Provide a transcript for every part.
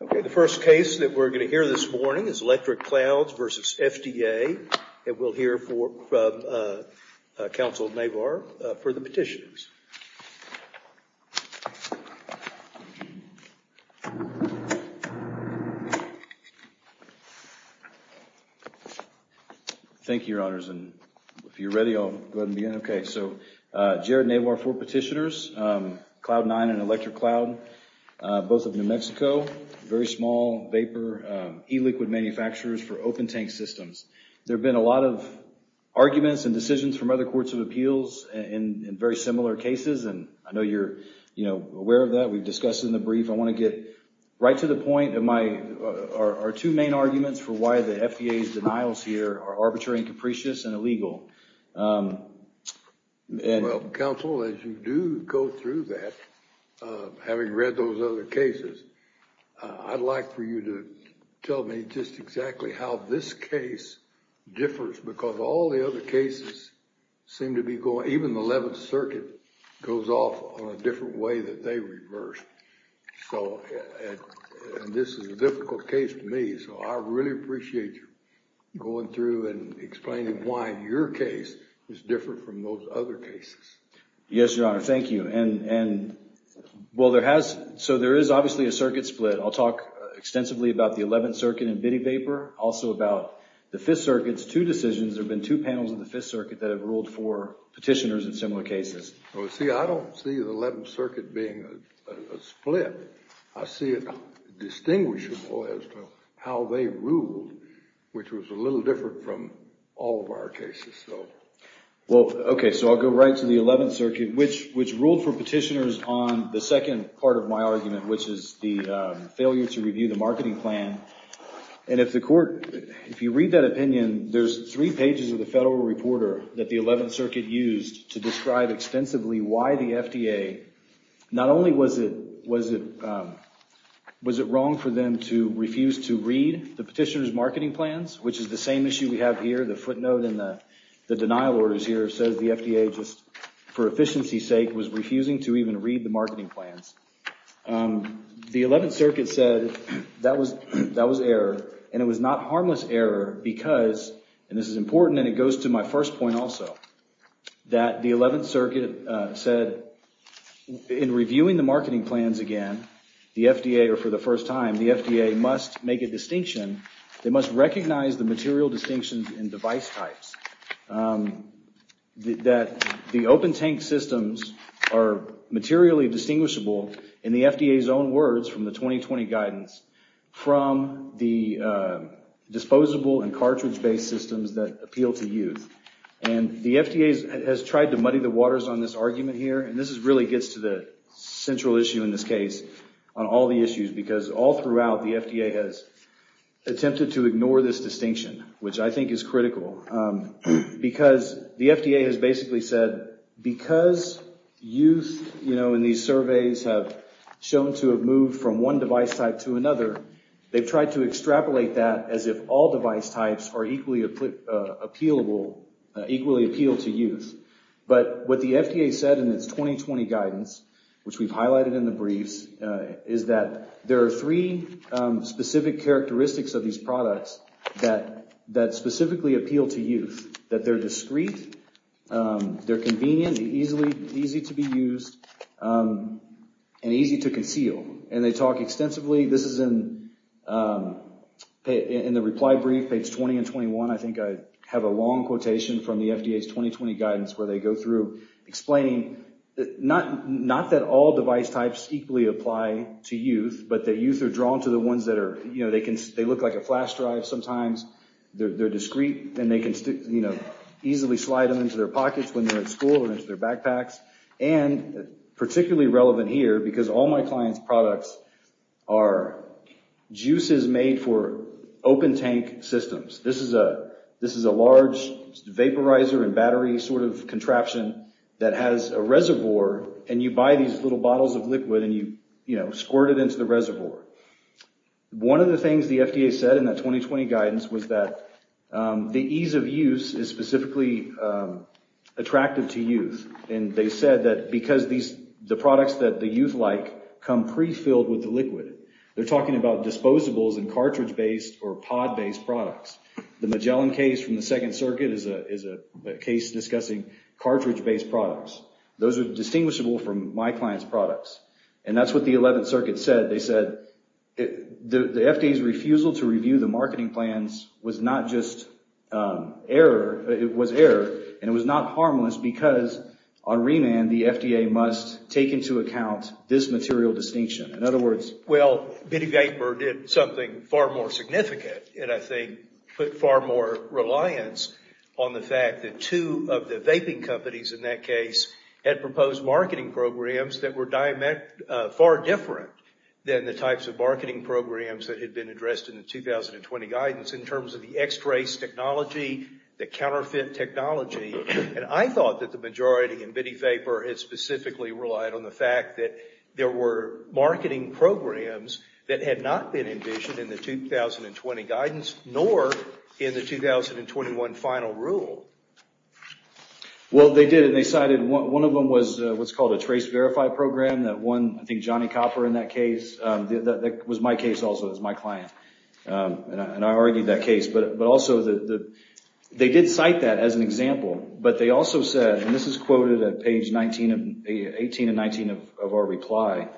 Okay, the first case that we're going to hear this morning is Electric Clouds v. FDA and we'll hear from Councilor Navar for the petitioners. Thank you, Your Honors. If you're ready, I'll go ahead and begin. Okay, so Jared Navar, four petitioners, Cloud9 and Electric Cloud, both of New Mexico, very small vapor e-liquid manufacturers for open tank systems. There have been a lot of arguments and decisions from other courts of appeals in very similar cases and I know you're aware of that. We've discussed it in the brief. I want to get right to the point of our two main arguments for why the FDA's denials here are arbitrary and capricious and illegal. Well, Council, as you do go through that, having read those other cases, I'd like for you to tell me just exactly how this case differs because all the other cases seem to be going, even the 11th Circuit goes off on a different way that they reversed. So, and this is a difficult case for me, so I really appreciate you going through and explaining why your case is different from those other cases. Yes, Your Honor. Thank you. And, well, there has, so there is obviously a circuit split. I'll talk extensively about the 11th Circuit and Bitty Vapor, also about the 5th Circuit's two decisions. There have been two panels of the 5th Circuit that have ruled for petitioners in similar cases. Well, see, I don't see the 11th Circuit being a split. I see it distinguishable as to how they ruled, which was a little different from all of our cases, so. Well, OK, so I'll go right to the 11th Circuit, which ruled for petitioners on the second part of my argument, which is the failure to review the marketing plan. And if the court, if you read that opinion, there's three pages of the Federal Reporter that the 11th Circuit used to describe extensively why the FDA, not only was it wrong for them to refuse to read the petitioner's marketing plans, which is the same issue we have here, the footnote in the denial orders here says the FDA, just for efficiency's sake, was refusing to even read the marketing plans. The 11th Circuit said that was error, and it was not harmless error because, and this is important, and it goes to my first point also, that the 11th Circuit said in reviewing the marketing plans again, the FDA, or for the first time, the FDA must make a distinction, they must recognize the material distinctions in device types, that the open tank systems are materially distinguishable, in the FDA's own words from the 2020 guidance, from the appeal to youth, and the FDA has tried to muddy the waters on this argument here, and this really gets to the central issue in this case, on all the issues, because all throughout the FDA has attempted to ignore this distinction, which I think is critical, because the FDA has basically said, because youth, you know, in these surveys have shown to have moved from one device type to another, they've tried to extrapolate that as if all device types are equally appealable, equally appeal to youth, but what the FDA said in its 2020 guidance, which we've highlighted in the briefs, is that there are three specific characteristics of these products that specifically appeal to youth, that they're discreet, they're convenient, they're easy to be used, and easy to conceal, and they talk extensively, this is in the reply brief, page 20 and 21, I think I have a long quotation from the FDA's 2020 guidance where they go through explaining, not that all device types equally apply to youth, but that youth are drawn to the ones that are, you know, they look like a flash drive sometimes, they're discreet, and they can easily slide them into their pockets when they're at school, or into their backpacks, and particularly relevant here, because all my clients' products are juices made for open tank systems, this is a large vaporizer and battery sort of contraption that has a reservoir, and you buy these little bottles of liquid, and you squirt it into the reservoir. One of the things the FDA said in that 2020 guidance was that the ease of use is specifically attractive to youth, and they said that because the products that the youth like come pre-filled with the liquid, they're talking about disposables and cartridge-based or pod-based products. The Magellan case from the Second Circuit is a case discussing cartridge-based products, those are distinguishable from my client's products, and that's what the Eleventh Circuit said, they said, the FDA's refusal to review the marketing plans was not just error, it was error, and it was not harmless, because on remand, the FDA must take into account this material distinction. In other words... Well, Bitty Vapor did something far more significant, and I think put far more reliance on the fact that two of the vaping companies in that case had proposed marketing programs that were far different than the types of marketing programs that had been addressed in the 2020 guidance in terms of the X-Trace technology, the counterfeit technology, and I thought that the majority in Bitty Vapor had specifically relied on the fact that there were marketing programs that had not been envisioned in the 2020 guidance, nor in the 2021 final rule. Well, they did, and they cited, one of them was what's called a TraceVerify program that won, I think, Johnny Copper in that case, that was my case also, it was my client, and I argued that case, but also, they did cite that as an example, but they also said, and this is quoted at page 18 and 19 of our reply,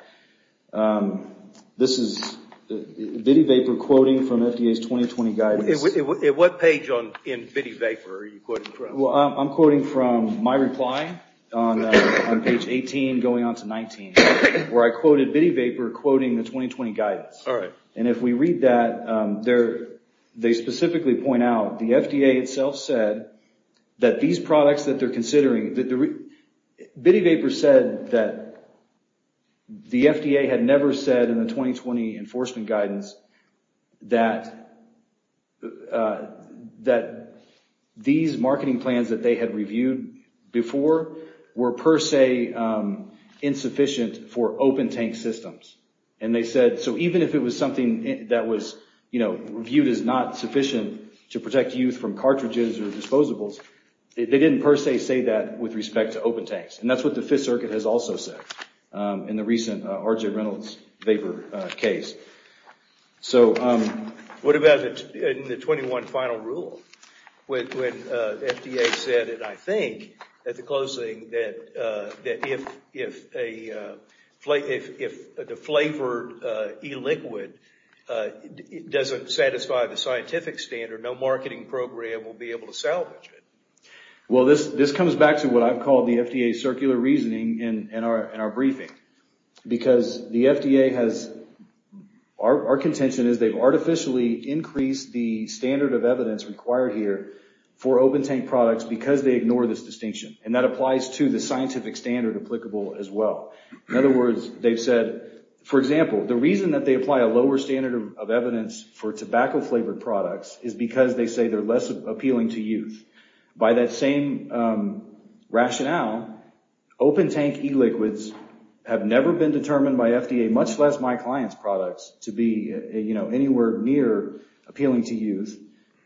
this is Bitty Vapor quoting from FDA's 2020 guidance. At what page in Bitty Vapor are you quoting from? Well, I'm quoting from my reply on page 18 going on to 19, where I quoted Bitty Vapor quoting the 2020 guidance, and if we read that, they specifically point out, the FDA itself said that these products that they're considering, Bitty Vapor said that the FDA had never said in the 2020 enforcement guidance that these marketing plans that they had reviewed before were per se insufficient for open tank systems, and they said, so even if it was something that was, you know, viewed as not sufficient to protect youth from cartridges or disposables, they didn't per se say that with respect to open tanks, and that's what the Fifth Circuit has also said in the recent RJ Reynolds Vapor case. So, what about in the 21 final rule, when FDA said, and I think at the closing, that if the flavored e-liquid doesn't satisfy the scientific standard, no marketing program will be able to salvage it? Well, this comes back to what I've called the FDA's circular reasoning in our briefing, because the FDA has, our contention is they've artificially increased the standard of evidence required here for open tank products because they ignore this distinction, and that applies to the scientific standard applicable as well. In other words, they've said, for example, the reason that they apply a lower standard of evidence for tobacco flavored products is because they say they're less appealing to youth. By that same rationale, open tank e-liquids have never been determined by FDA, much less my client's products, to be, you know, anywhere near appealing to youth.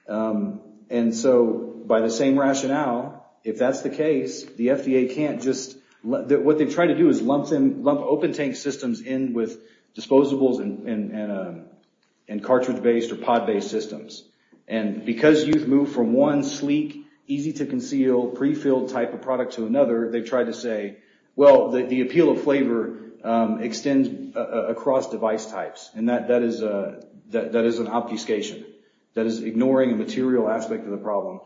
And so, by the same rationale, if that's the case, the FDA can't just, what they try to do is lump open tank systems in with disposables and cartridge-based or pod-based systems. Because youth move from one sleek, easy-to-conceal, pre-filled type of product to another, they try to say, well, the appeal of flavor extends across device types, and that is an obfuscation. That is ignoring a material aspect of the problem,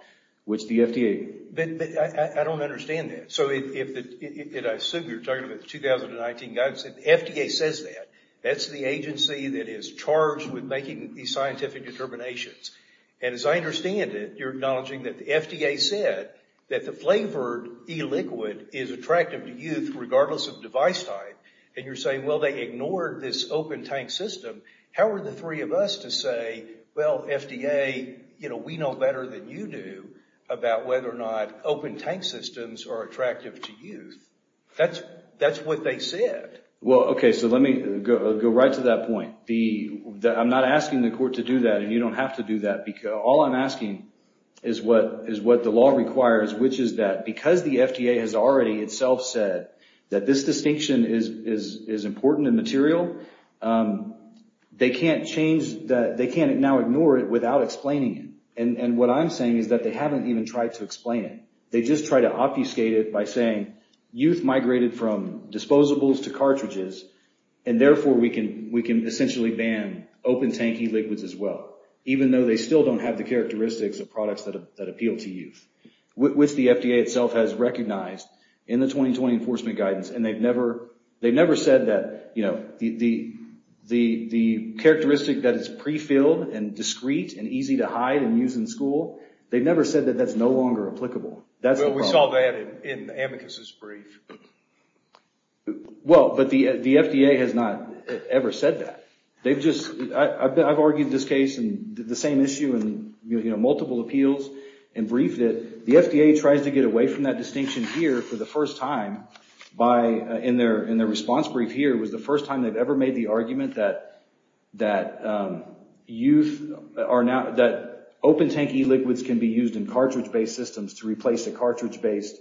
which the FDA... But I don't understand that. So, if I assume you're talking about the 2019 guidance, if the FDA says that, that's the And as I understand it, you're acknowledging that the FDA said that the flavored e-liquid is attractive to youth regardless of device type, and you're saying, well, they ignored this open tank system. How are the three of us to say, well, FDA, you know, we know better than you do about whether or not open tank systems are attractive to youth? That's what they said. Well, okay, so let me go right to that point. I'm not asking the court to do that, and you don't have to do that. All I'm asking is what the law requires, which is that because the FDA has already itself said that this distinction is important and material, they can't now ignore it without explaining it. And what I'm saying is that they haven't even tried to explain it. They just try to obfuscate it by saying youth migrated from disposables to cartridges, and therefore we can essentially ban open tank e-liquids as well, even though they still don't have the characteristics of products that appeal to youth, which the FDA itself has recognized in the 2020 enforcement guidance. And they've never said that, you know, the characteristic that is pre-filled and discrete and easy to hide and use in school, they've never said that that's no longer applicable. Well, we saw that in Amicus's brief. Well, but the FDA has not ever said that. They've just, I've argued this case and the same issue in multiple appeals and briefed it. The FDA tries to get away from that distinction here for the first time in their response brief here was the first time they've ever made the argument that open tank e-liquids can be used in cartridge-based systems to replace a cartridge-based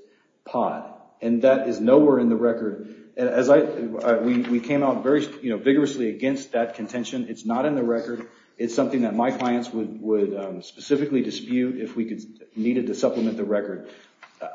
pot. And that is nowhere in the record. And as I, we came out very vigorously against that contention. It's not in the record. It's something that my clients would specifically dispute if we needed to supplement the record.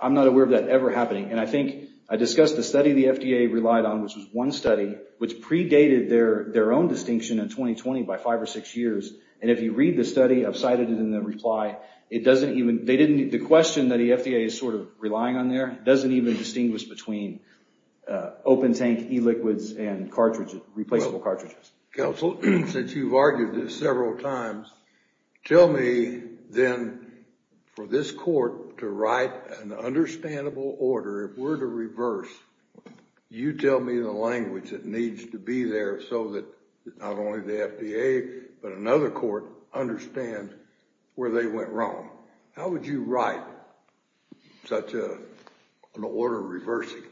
I'm not aware of that ever happening. And I think I discussed the study the FDA relied on, which was one study which predated their own distinction in 2020 by five or six years. And if you read the study, I've cited it in the reply, it doesn't even, they didn't, the question that the FDA is sort of relying on there doesn't even distinguish between open tank e-liquids and cartridges, replaceable cartridges. Counsel, since you've argued this several times, tell me then for this court to write an understandable order, if we're to reverse, you tell me the language that needs to be there so that not only the FDA, but another court understand where they went wrong. How would you write such an order reversing?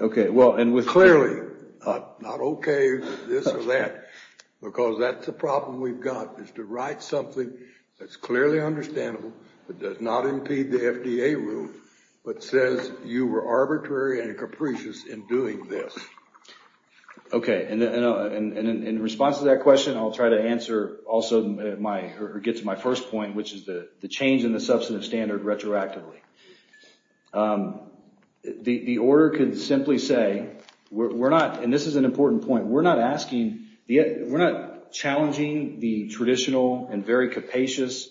Okay. Well, and with clearly, not okay with this or that, because that's the problem we've got is to write something that's clearly understandable, but does not impede the FDA rule, but says you were arbitrary and capricious in doing this. Okay. And in response to that question, I'll try to answer also my, or get to my first point, which is the change in the substantive standard retroactively. The order could simply say, we're not, and this is an important point, we're not asking, we're not challenging the traditional and very capacious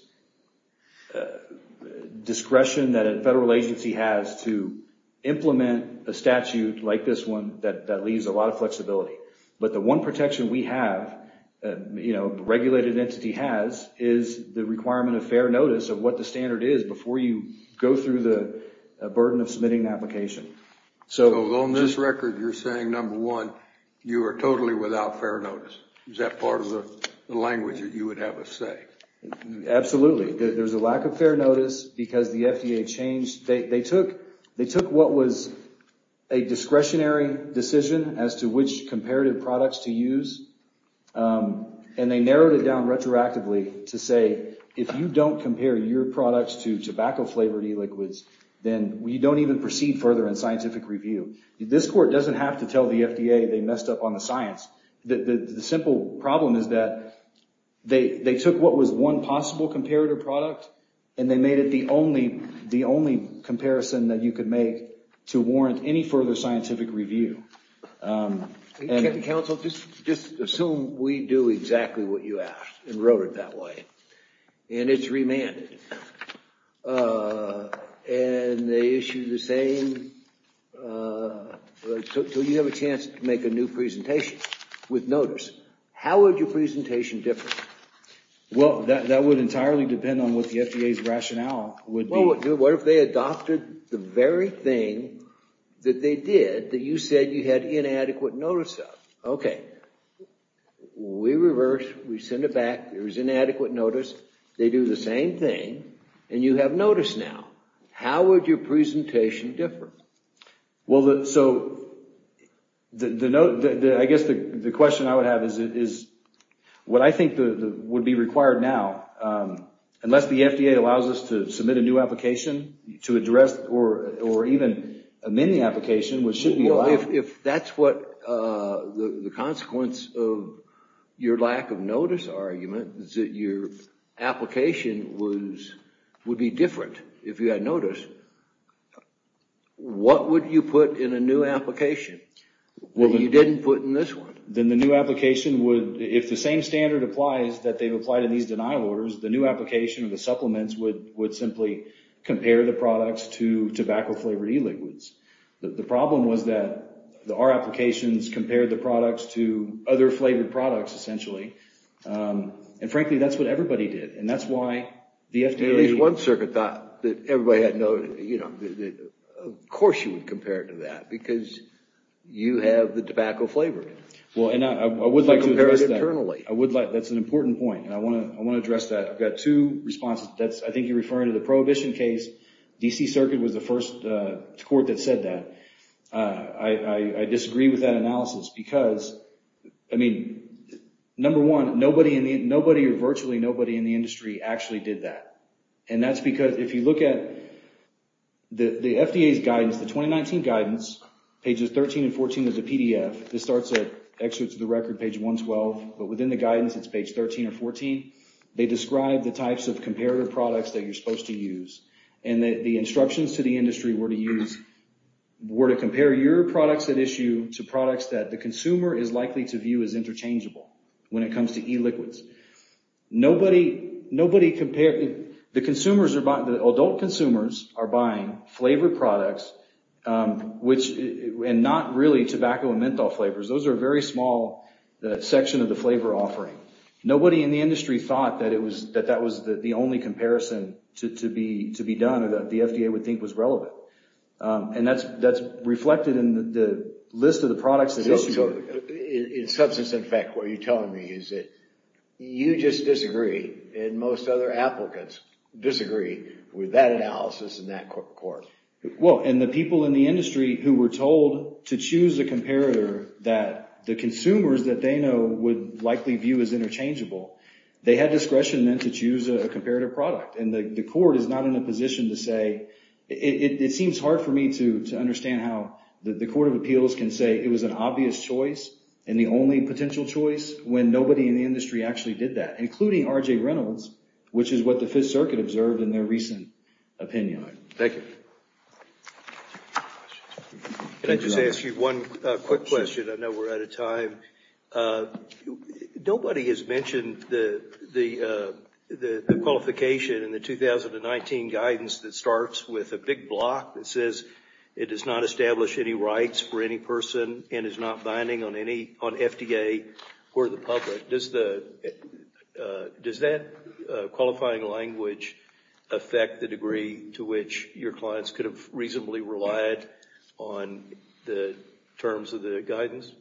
discretion that a federal agency has to implement a statute like this one that leaves a lot of flexibility. But the one protection we have, you know, regulated entity has is the requirement of fair notice of what the standard is before you go through the burden of submitting the application. So on this record, you're saying number one, you are totally without fair notice. Is that part of the language that you would have us say? Absolutely. There's a lack of fair notice because the FDA changed, they took what was a discretionary decision as to which comparative products to use. And they narrowed it down retroactively to say, if you don't compare your products to tobacco flavored e-liquids, then you don't even proceed further in scientific review. This court doesn't have to tell the FDA they messed up on the science. The simple problem is that they took what was one possible comparative product and they made it the only comparison that you could make to warrant any further scientific review. And counsel, just assume we do exactly what you asked and wrote it that way. And it's remanded. And they issued the same, so you have a chance to make a new presentation with notice. How would your presentation differ? Well, that would entirely depend on what the FDA's rationale would be. What if they adopted the very thing that they did that you said you had inadequate notice of? Okay, we reverse, we send it back, there's inadequate notice. They do the same thing and you have notice now. How would your presentation differ? Well, so I guess the question I would have is what I think would be required now, unless the FDA allows us to submit a new application to address or even amend the application, which should be allowed. If that's what the consequence of your lack of notice argument is that your application would be different if you had notice, what would you put in a new application that you didn't put in this one? Then the new application would, if the same standard applies that they've applied in these denial orders, the new application or the supplements would simply compare the products to tobacco flavored e-liquids. The problem was that our applications compared the products to other flavored products, essentially. And frankly, that's what everybody did. And that's why the FDA... At least one circuit thought that everybody had no, you know, of course you would compare it to that because you have the tobacco flavor. Well, and I would like to address that. That's an important point. And I want to address that. I've got two responses. That's, I think you're referring to the prohibition case. DC Circuit was the first court that said that. I disagree with that analysis because, I mean, number one, nobody or virtually nobody in the industry actually did that. And that's because if you look at the FDA's guidance, the 2019 guidance, pages 13 and 14 is a PDF. This starts at excerpts of the record, page 112. But within the guidance, it's page 13 or 14. They describe the types of comparative products that you're supposed to use and that the instructions to the industry were to use, were to compare your products at issue to products that the consumer is likely to view as interchangeable when it comes to e-liquids. Nobody compared... Adult consumers are buying flavored products, and not really tobacco and menthol flavors. Those are very small, that section of the flavor offering. Nobody in the industry thought that that was the only comparison to be done or that the FDA would think was relevant. And that's reflected in the list of the products at issue. In substance, in fact, what you're telling me is that you just disagree, and most other applicants disagree with that analysis and that report. Well, and the people in the industry who were told to choose a comparator that the consumers that they know would likely view as interchangeable, they had discretion then to choose a comparative product. And the court is not in a position to say... It seems hard for me to understand how the Court of Appeals can say it was an obvious choice and the only potential choice when nobody in the industry actually did that, including R.J. Reynolds, which is what the Fifth Circuit observed in their recent opinion. Thank you. Can I just ask you one quick question? I know we're out of time. Nobody has mentioned the qualification in the 2019 guidance that starts with a big block that says it does not establish any rights for any person and is not binding on FDA or the public. Does that qualifying language affect the degree to which your clients could have reasonably relied on the terms of the guidance?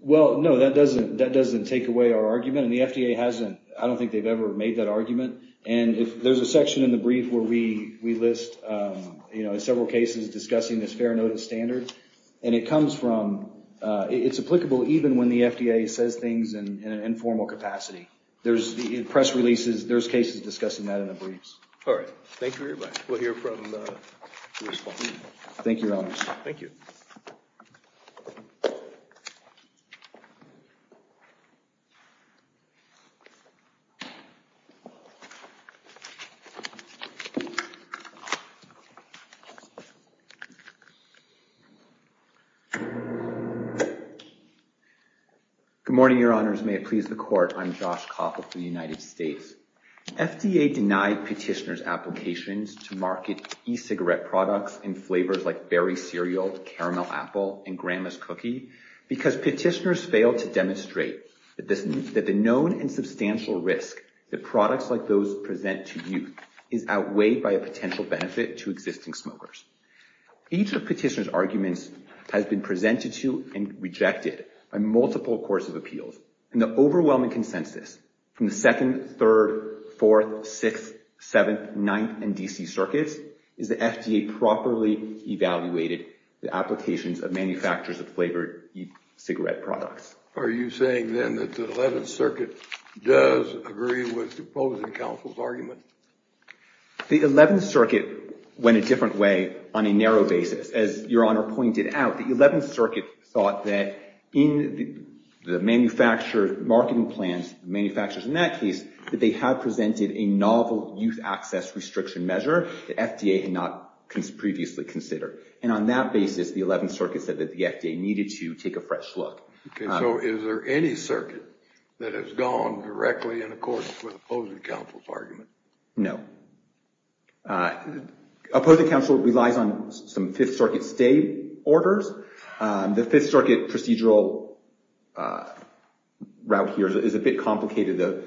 Well, no, that doesn't take away our argument. And the FDA hasn't... I don't think they've ever made that argument. And there's a section in the brief where we list several cases discussing this fair standard, and it comes from... It's applicable even when the FDA says things in an informal capacity. There's press releases. There's cases discussing that in the briefs. All right. Thank you very much. We'll hear from the respondent. Thank you, Your Honors. Thank you. Good morning, Your Honors. May it please the Court. I'm Josh Koppel from the United States. FDA denied petitioners' applications to market e-cigarette products in flavors like Berry Cereal, Caramel Apple, and Grandma's Cookie because petitioners failed to demonstrate that the known and substantial risk that products like those present to youth is outweighed by a potential benefit to existing smokers. Each of petitioners' arguments has been presented to and rejected by multiple courts of appeals, and the overwhelming consensus from the second, third, fourth, sixth, seventh, ninth, and DC circuits is that FDA properly evaluated the applications of manufacturers of flavored e-cigarette products. Are you saying, then, that the Eleventh Circuit does agree with opposing counsel's argument? The Eleventh Circuit went a different way on a narrow basis. As Your Honor pointed out, the Eleventh Circuit thought that in the manufacturers' marketing plans, the manufacturers in that case, that they had presented a novel youth access restriction measure that FDA had not previously considered. And on that basis, the Eleventh Circuit said that the FDA needed to take a fresh look. Okay. So is there any circuit that has gone directly in accordance with opposing counsel's argument? No. Opposing counsel relies on some Fifth Circuit stay orders. The Fifth Circuit procedural route here is a bit complicated.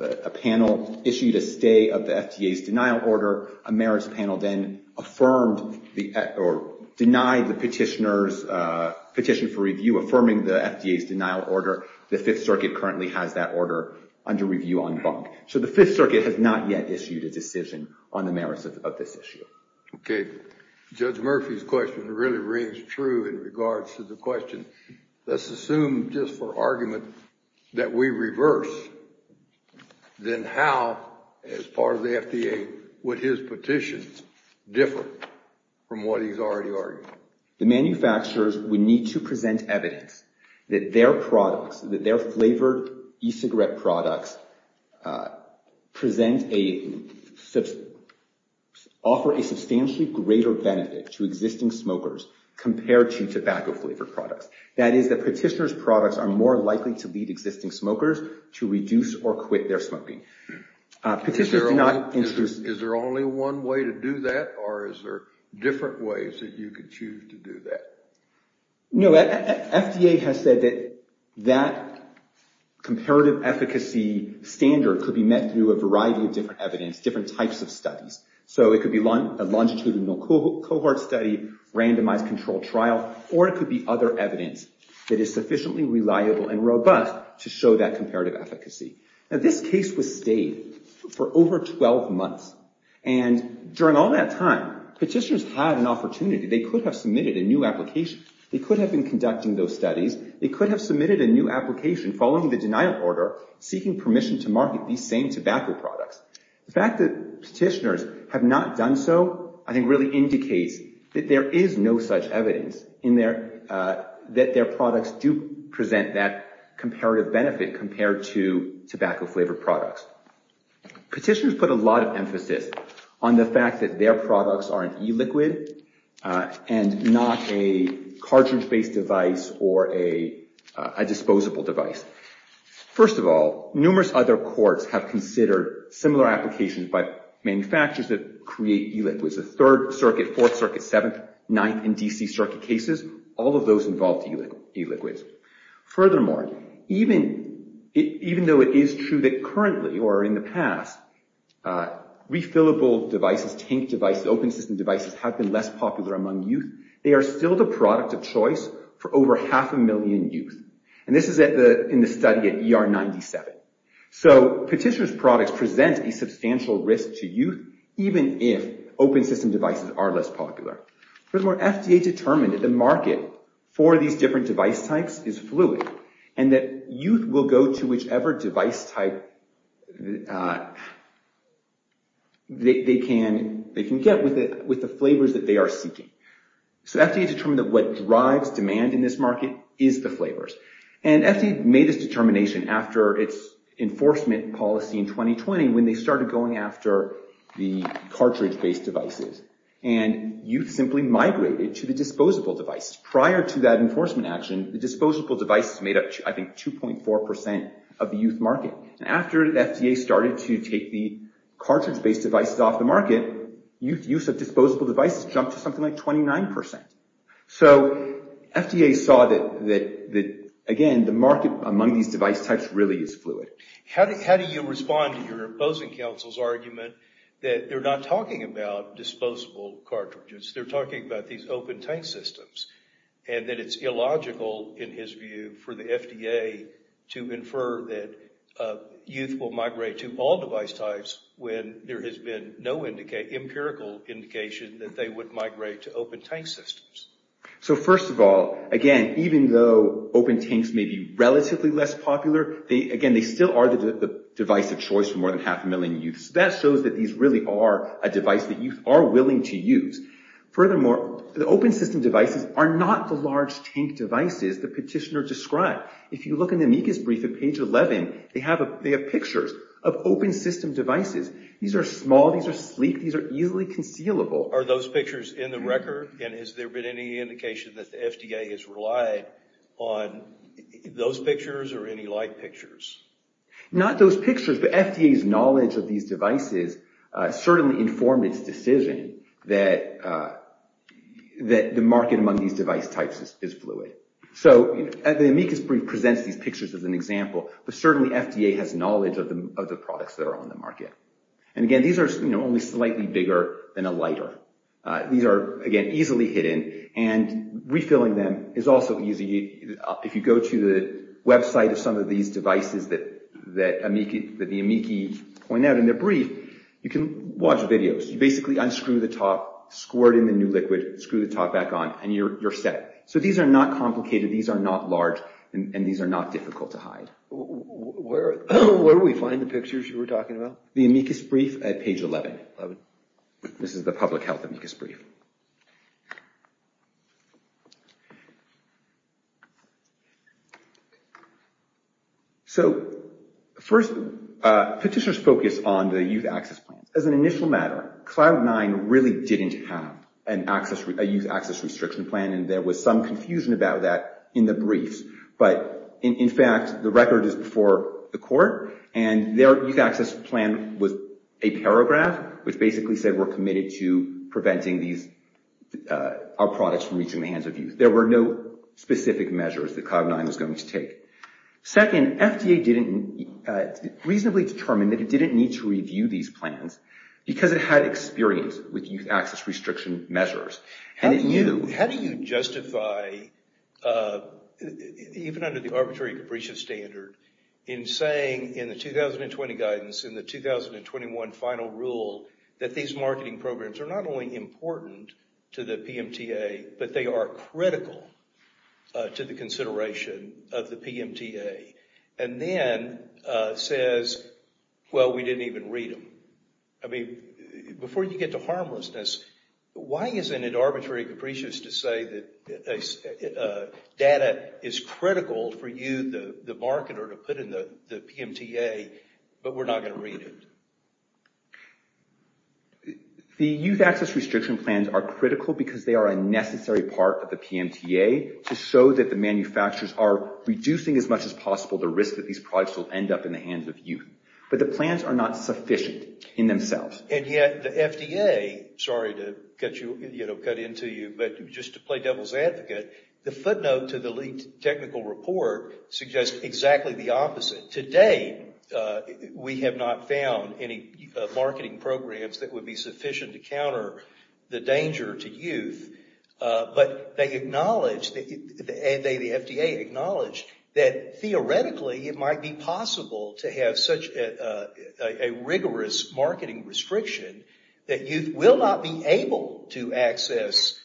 A panel issued a stay of the FDA's denial order. A merits panel then affirmed or denied the petitioner's petition for review, affirming the FDA's denial order. The Fifth Circuit currently has that order under review on bunk. So the Fifth Circuit has not yet issued a decision on the merits of this issue. Okay. Judge Murphy's question really rings true in regards to the question. Let's assume, just for argument, that we reverse. Then how, as part of the FDA, would his petition differ from what he's already argued? The manufacturers would need to present evidence that their products, that their flavored e-cigarette products, offer a substantially greater benefit to existing smokers compared to tobacco flavored products. That is, the petitioner's products are more likely to lead existing smokers to reduce or quit their smoking. Is there only one way to do that? Or is there different ways that you could choose to do that? You know, FDA has said that that comparative efficacy standard could be met through a variety of different evidence, different types of studies. So it could be a longitudinal cohort study, randomized controlled trial, or it could be other evidence that is sufficiently reliable and robust to show that comparative efficacy. Now, this case was stayed for over 12 months. And during all that time, petitioners had an opportunity. They could have submitted a new application. They could have been conducting those studies. They could have submitted a new application following the denial order, seeking permission to market these same tobacco products. The fact that petitioners have not done so, I think, really indicates that there is no such evidence in there that their products do present that comparative benefit compared to tobacco flavored products. Petitioners put a lot of emphasis on the fact that their products are an e-liquid and not a cartridge-based device or a disposable device. First of all, numerous other courts have considered similar applications by manufacturers that create e-liquids. The Third Circuit, Fourth Circuit, Seventh, Ninth, and D.C. Circuit cases, all of those involved e-liquids. Furthermore, even though it is true that currently, or in the past, that refillable devices, tank devices, open system devices have been less popular among youth, they are still the product of choice for over half a million youth. And this is in the study at ER 97. So petitioners' products present a substantial risk to youth even if open system devices are less popular. Furthermore, FDA determined that the market for these different device types is fluid and that youth will go to whichever device type they can get with the flavors that they are seeking. So FDA determined that what drives demand in this market is the flavors. And FDA made this determination after its enforcement policy in 2020 when they started going after the cartridge-based devices. And youth simply migrated to the disposable device. Prior to that enforcement action, the disposable devices made up, I think, 2.4% of the youth market. And after FDA started to take the cartridge-based devices off the market, use of disposable devices jumped to something like 29%. So FDA saw that, again, the market among these device types really is fluid. How do you respond to your opposing counsel's argument that they're not talking about disposable cartridges, they're talking about these open tank systems, and that it's illogical, in his view, for the FDA to infer that youth will migrate to all device types when there has been no empirical indication that they would migrate to open tank systems? So first of all, again, even though open tanks may be relatively less popular, again, they still are the device of choice for more than half a million youth. So that shows that these really are a device that youth are willing to use. Furthermore, the open system devices are not the large tank devices the petitioner described. If you look in the amicus brief at page 11, they have pictures of open system devices. These are small, these are sleek, these are easily concealable. Are those pictures in the record? And has there been any indication that the FDA has relied on those pictures or any like pictures? Not those pictures, but FDA's knowledge of these devices certainly informed its decision that the market among these device types is fluid. So the amicus brief presents these pictures as an example, but certainly FDA has knowledge of the products that are on the market. And again, these are only slightly bigger than a lighter. These are, again, easily hidden, and refilling them is also easy. If you go to the website of some of these devices that the amici point out in their brief, you can watch videos. You basically unscrew the top, squirt in the new liquid, screw the top back on, and you're set. So these are not complicated. These are not large, and these are not difficult to hide. Where do we find the pictures you were talking about? The amicus brief at page 11. This is the public health amicus brief. So, first, petitioners focus on the youth access plan. As an initial matter, Cloud9 really didn't have a youth access restriction plan, and there was some confusion about that in the briefs. But in fact, the record is before the court, and their youth access plan was a paragraph, youth access restrictions. Our products were reaching the hands of youth. There were no specific measures that Cloud9 was going to take. Second, FDA reasonably determined that it didn't need to review these plans because it had experience with youth access restriction measures. How do you justify, even under the arbitrary capricious standard, in saying in the 2020 guidance, in the 2021 final rule, that these marketing programs are not only important, to the PMTA, but they are critical to the consideration of the PMTA? And then says, well, we didn't even read them. I mean, before you get to harmlessness, why isn't it arbitrary capricious to say that data is critical for you, the marketer, to put in the PMTA, but we're not going to read it? The youth access restriction plans are critical because they are a necessary part of the PMTA to show that the manufacturers are reducing as much as possible the risk that these products will end up in the hands of youth. But the plans are not sufficient in themselves. And yet the FDA, sorry to cut into you, but just to play devil's advocate, the footnote to the leaked technical report suggests exactly the opposite. Today, we have not found any marketing programs that would be sufficient to counter the danger to youth, but they acknowledge, the FDA acknowledged that theoretically it might be possible to have such a rigorous marketing restriction that youth will not be able to access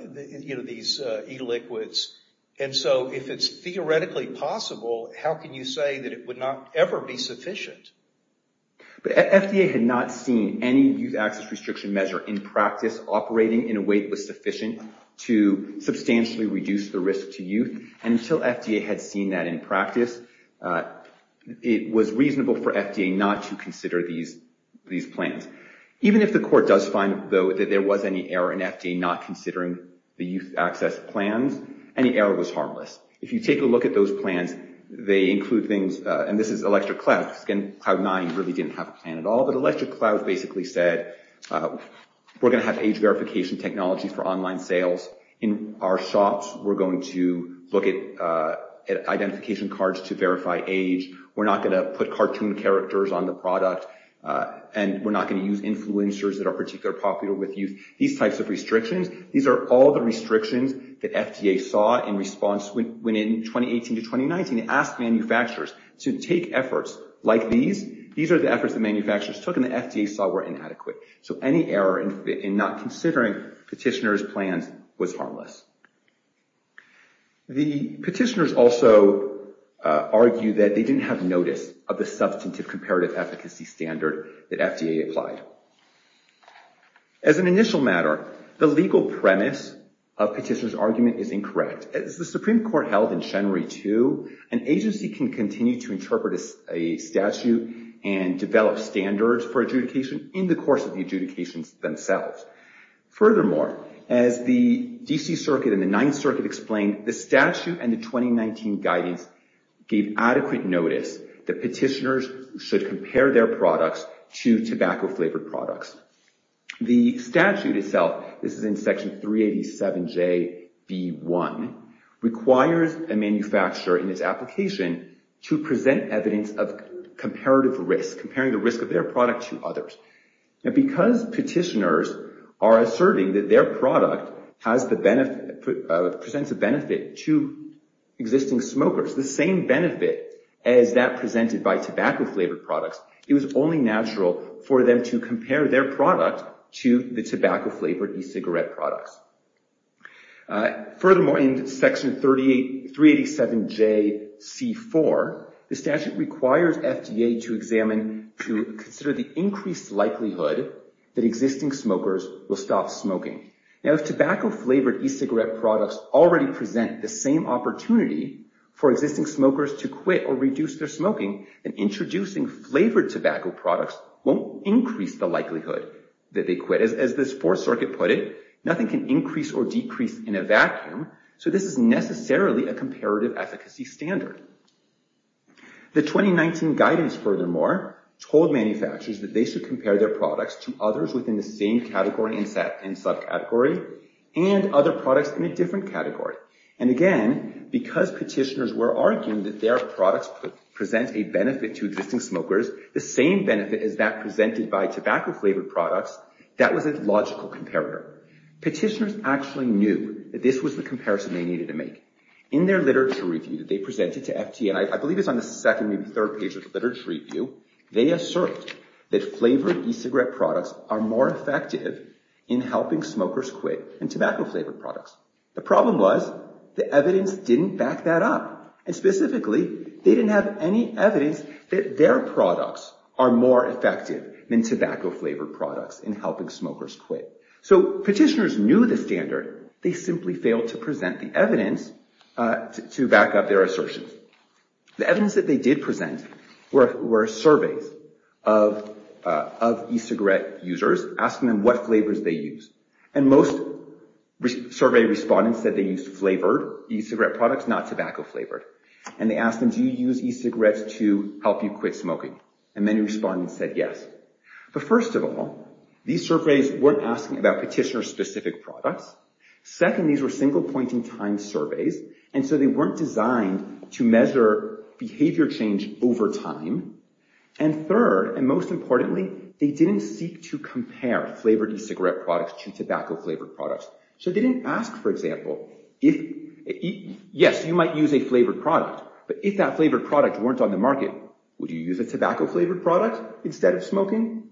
these e-liquids. And so if it's theoretically possible, how can you say that it would not ever be sufficient? But FDA had not seen any youth access restriction measure in practice operating in a way that was sufficient to substantially reduce the risk to youth. And until FDA had seen that in practice, it was reasonable for FDA not to consider these plans. Even if the court does find, though, that there was any error in FDA not considering the youth access plans, any error was harmless. If you take a look at those plans, they include things, and this is Electric Cloud, because again, Cloud9 really didn't have a plan at all, but Electric Cloud basically said, we're gonna have age verification technology for online sales. In our shops, we're going to look at identification cards to verify age. We're not gonna put cartoon characters on the product, and we're not gonna use influencers that are particularly popular with youth. These types of restrictions, these are all the restrictions that FDA saw in response when in 2018 to 2019, it asked manufacturers to take efforts like these. These are the efforts that manufacturers took, and the FDA saw were inadequate. So any error in not considering petitioner's plans was harmless. The petitioners also argued that they didn't have notice of the substantive comparative efficacy standard that FDA applied. As an initial matter, the legal premise of petitioner's argument is incorrect. As the Supreme Court held in January 2, an agency can continue to interpret a statute and develop standards for adjudication in the course of the adjudications themselves. Furthermore, as the D.C. Circuit and the Ninth Circuit explained, the statute and the 2019 guidance gave adequate notice that petitioners should compare their products to tobacco-flavored products. The statute itself, this is in Section 387JB1, requires a manufacturer in its application to present evidence of comparative risk, comparing the risk of their product to others. Now, because petitioners are asserting that their product presents a benefit to existing smokers, the same benefit as that presented by tobacco-flavored products, it was only natural for them to compare their product to the tobacco-flavored e-cigarette products. Furthermore, in Section 387JC4, the statute requires FDA to examine, to consider the increased likelihood that existing smokers will stop smoking. Now, if tobacco-flavored e-cigarette products already present the same opportunity for existing smokers to quit or reduce their smoking, then introducing flavored tobacco products won't increase the likelihood that they quit. As this Fourth Circuit put it, nothing can increase or decrease in a vacuum, so this is necessarily a comparative efficacy standard. The 2019 guidance, furthermore, told manufacturers that they should compare their products to others within the same category and subcategory and other products in a different category. And again, because petitioners were arguing that their products present a benefit to existing smokers, the same benefit as that presented by tobacco-flavored products, that was a logical comparator. Petitioners actually knew that this was the comparison they needed to make. In their literature review that they presented to FDA, I believe it's on the second, maybe third page of the literature review, they asserted that flavored e-cigarette products are more effective in helping smokers quit than tobacco-flavored products. The problem was the evidence didn't back that up. And specifically, they didn't have any evidence that their products are more effective than tobacco-flavored products in helping smokers quit. So petitioners knew the standard, they simply failed to present the evidence to back up their assertions. The evidence that they did present were surveys of e-cigarette users, asking them what flavors they use. And most survey respondents said they used flavored e-cigarette products, not tobacco-flavored. And they asked them, do you use e-cigarettes to help you quit smoking? And many respondents said yes. But first of all, these surveys weren't asking about petitioner-specific products. Second, these were single-pointing time surveys, and so they weren't designed to measure behavior change over time. And third, and most importantly, they didn't seek to compare flavored e-cigarette products to tobacco-flavored products. So they didn't ask, for example, if, yes, you might use a flavored product, but if that flavored product weren't on the market, would you use a tobacco-flavored product instead of smoking?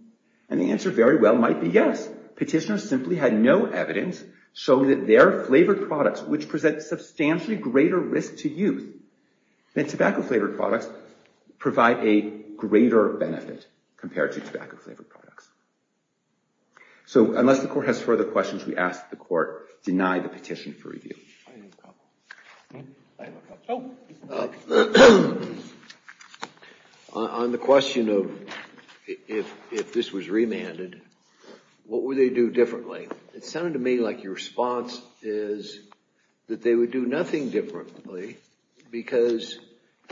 And the answer very well might be yes. Petitioners simply had no evidence showing that their flavored products, which present substantially greater risk to youth than tobacco-flavored products, provide a greater benefit compared to tobacco-flavored products. So unless the court has further questions, we ask that the court deny the petition for review. On the question of if this was remanded, what would they do differently? It sounded to me like your response is that they would do nothing differently because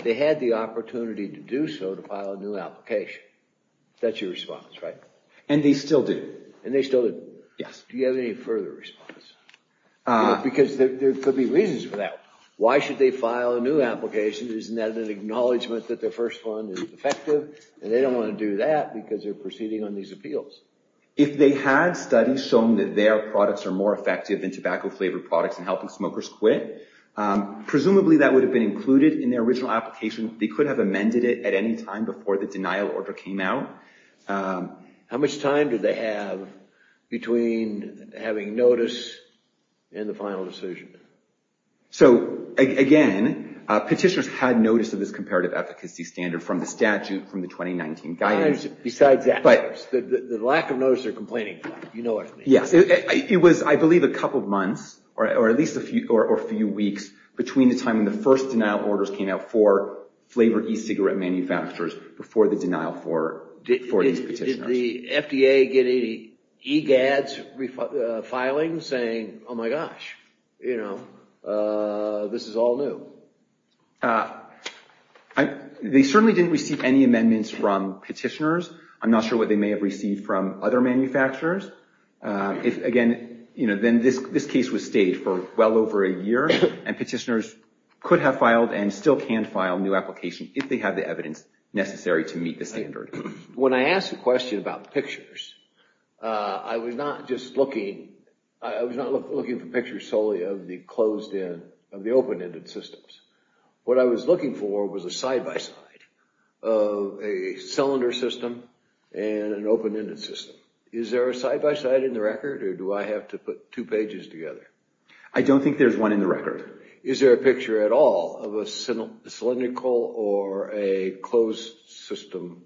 they had the opportunity to do so to file a new application. That's your response, right? And they still do. And they still do. Yes. Do you have any further response? Because there could be reasons for that. Why should they file a new application? Isn't that an acknowledgment that their first one is effective? And they don't want to do that because they're proceeding on these appeals. If they had studies showing that their products are more effective than tobacco-flavored products in helping smokers quit, presumably that would have been included in their original application. They could have amended it at any time before the denial order came out. How much time did they have between having notice and the final decision? So, again, petitioners had notice of this comparative efficacy standard from the statute from the 2019 guidance. Besides that, the lack of notice they're complaining about. You know what I mean. Yes. It was, I believe, a couple of months or at least a few weeks between the time when the first denial orders came out for flavored e-cigarette manufacturers before the denial order. Did the FDA get any EGADs filing saying, oh my gosh, you know, this is all new? They certainly didn't receive any amendments from petitioners. I'm not sure what they may have received from other manufacturers. If, again, you know, then this case was stayed for well over a year and petitioners could have filed and still can file a new application if they have the evidence necessary to meet the standard. When I asked the question about pictures, I was not just looking, I was not looking for pictures solely of the closed-in, of the open-ended systems. What I was looking for was a side-by-side of a cylinder system and an open-ended system. Is there a side-by-side in the record or do I have to put two pages together? I don't think there's one in the record. Is there a picture at all of a cylindrical or a closed-system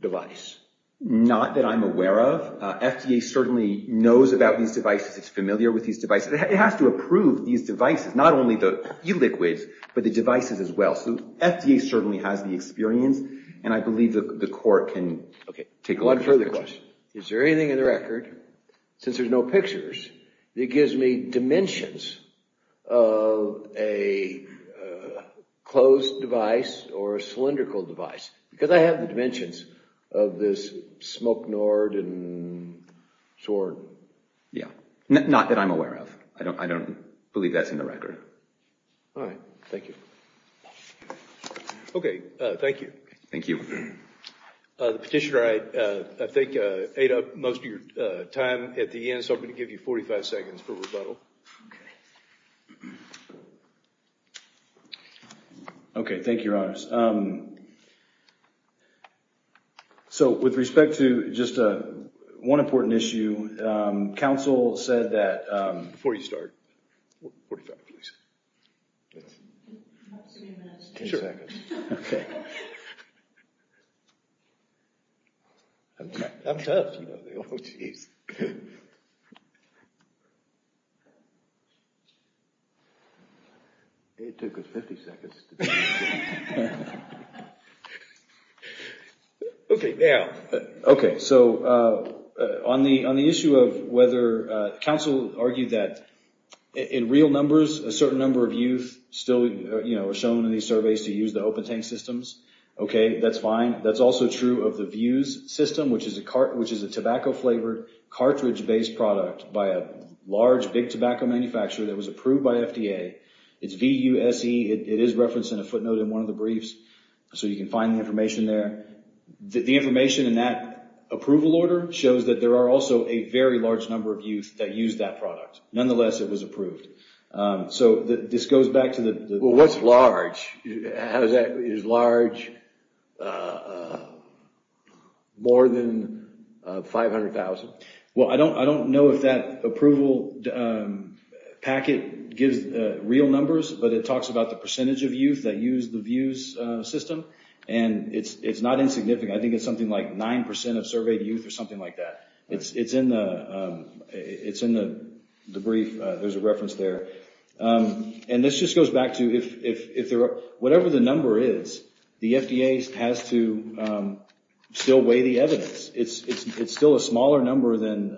device? Not that I'm aware of. FDA certainly knows about these devices. It's familiar with these devices. It has to approve these devices, not only the e-liquids, but the devices as well. So FDA certainly has the experience and I believe the court can take a look. One further question. Is there anything in the record, since there's no pictures, that gives me dimensions of a closed device or a cylindrical device? Because I have the dimensions of this smoke-gnored and soared. Yeah, not that I'm aware of. I don't believe that's in the record. All right, thank you. Okay, thank you. Thank you. The petitioner, I think, so I'm going to give you 45 seconds for rebuttal. Okay, thank you, Your Honors. So with respect to just one important issue, counsel said that... Before you start, 45, please. Not three minutes, 10 seconds. Sure. I'm tough. It took us 50 seconds. Okay, now. Okay, so on the issue of whether... Counsel argued that in real numbers, a certain number of youth still are shown in these surveys to use the open tank systems. Okay, that's fine. That's also true of the VIEWS system, which is a tobacco-flavored, cartridge-based product by a large, big tobacco manufacturer that was approved by FDA. It's V-U-S-E. It is referenced in a footnote in one of the briefs, so you can find the information there. The information in that approval order shows that there are also a very large number of youth that use that product. Nonetheless, it was approved. So this goes back to the... Well, what's large? How does that... Is large more than 500,000? Well, I don't know if that approval packet gives real numbers, but it talks about the percentage of youth that use the VIEWS system, and it's not insignificant. I think it's something like 9% of surveyed youth or something like that. It's in the brief. There's a reference there. And this just goes back to... Whatever the number is, the FDA has to still weigh the evidence. It's still a smaller number than...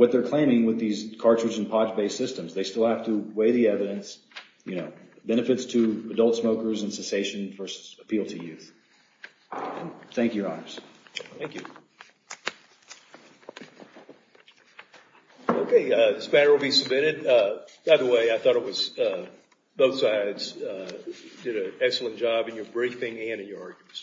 With these cartridge and pod-based systems, they still have to weigh the evidence, benefits to adult smokers and cessation versus appeal to youth. Thank you, Your Honors. Thank you. Okay, this matter will be submitted. By the way, I thought it was... Both sides did an excellent job in your briefing and in your arguments.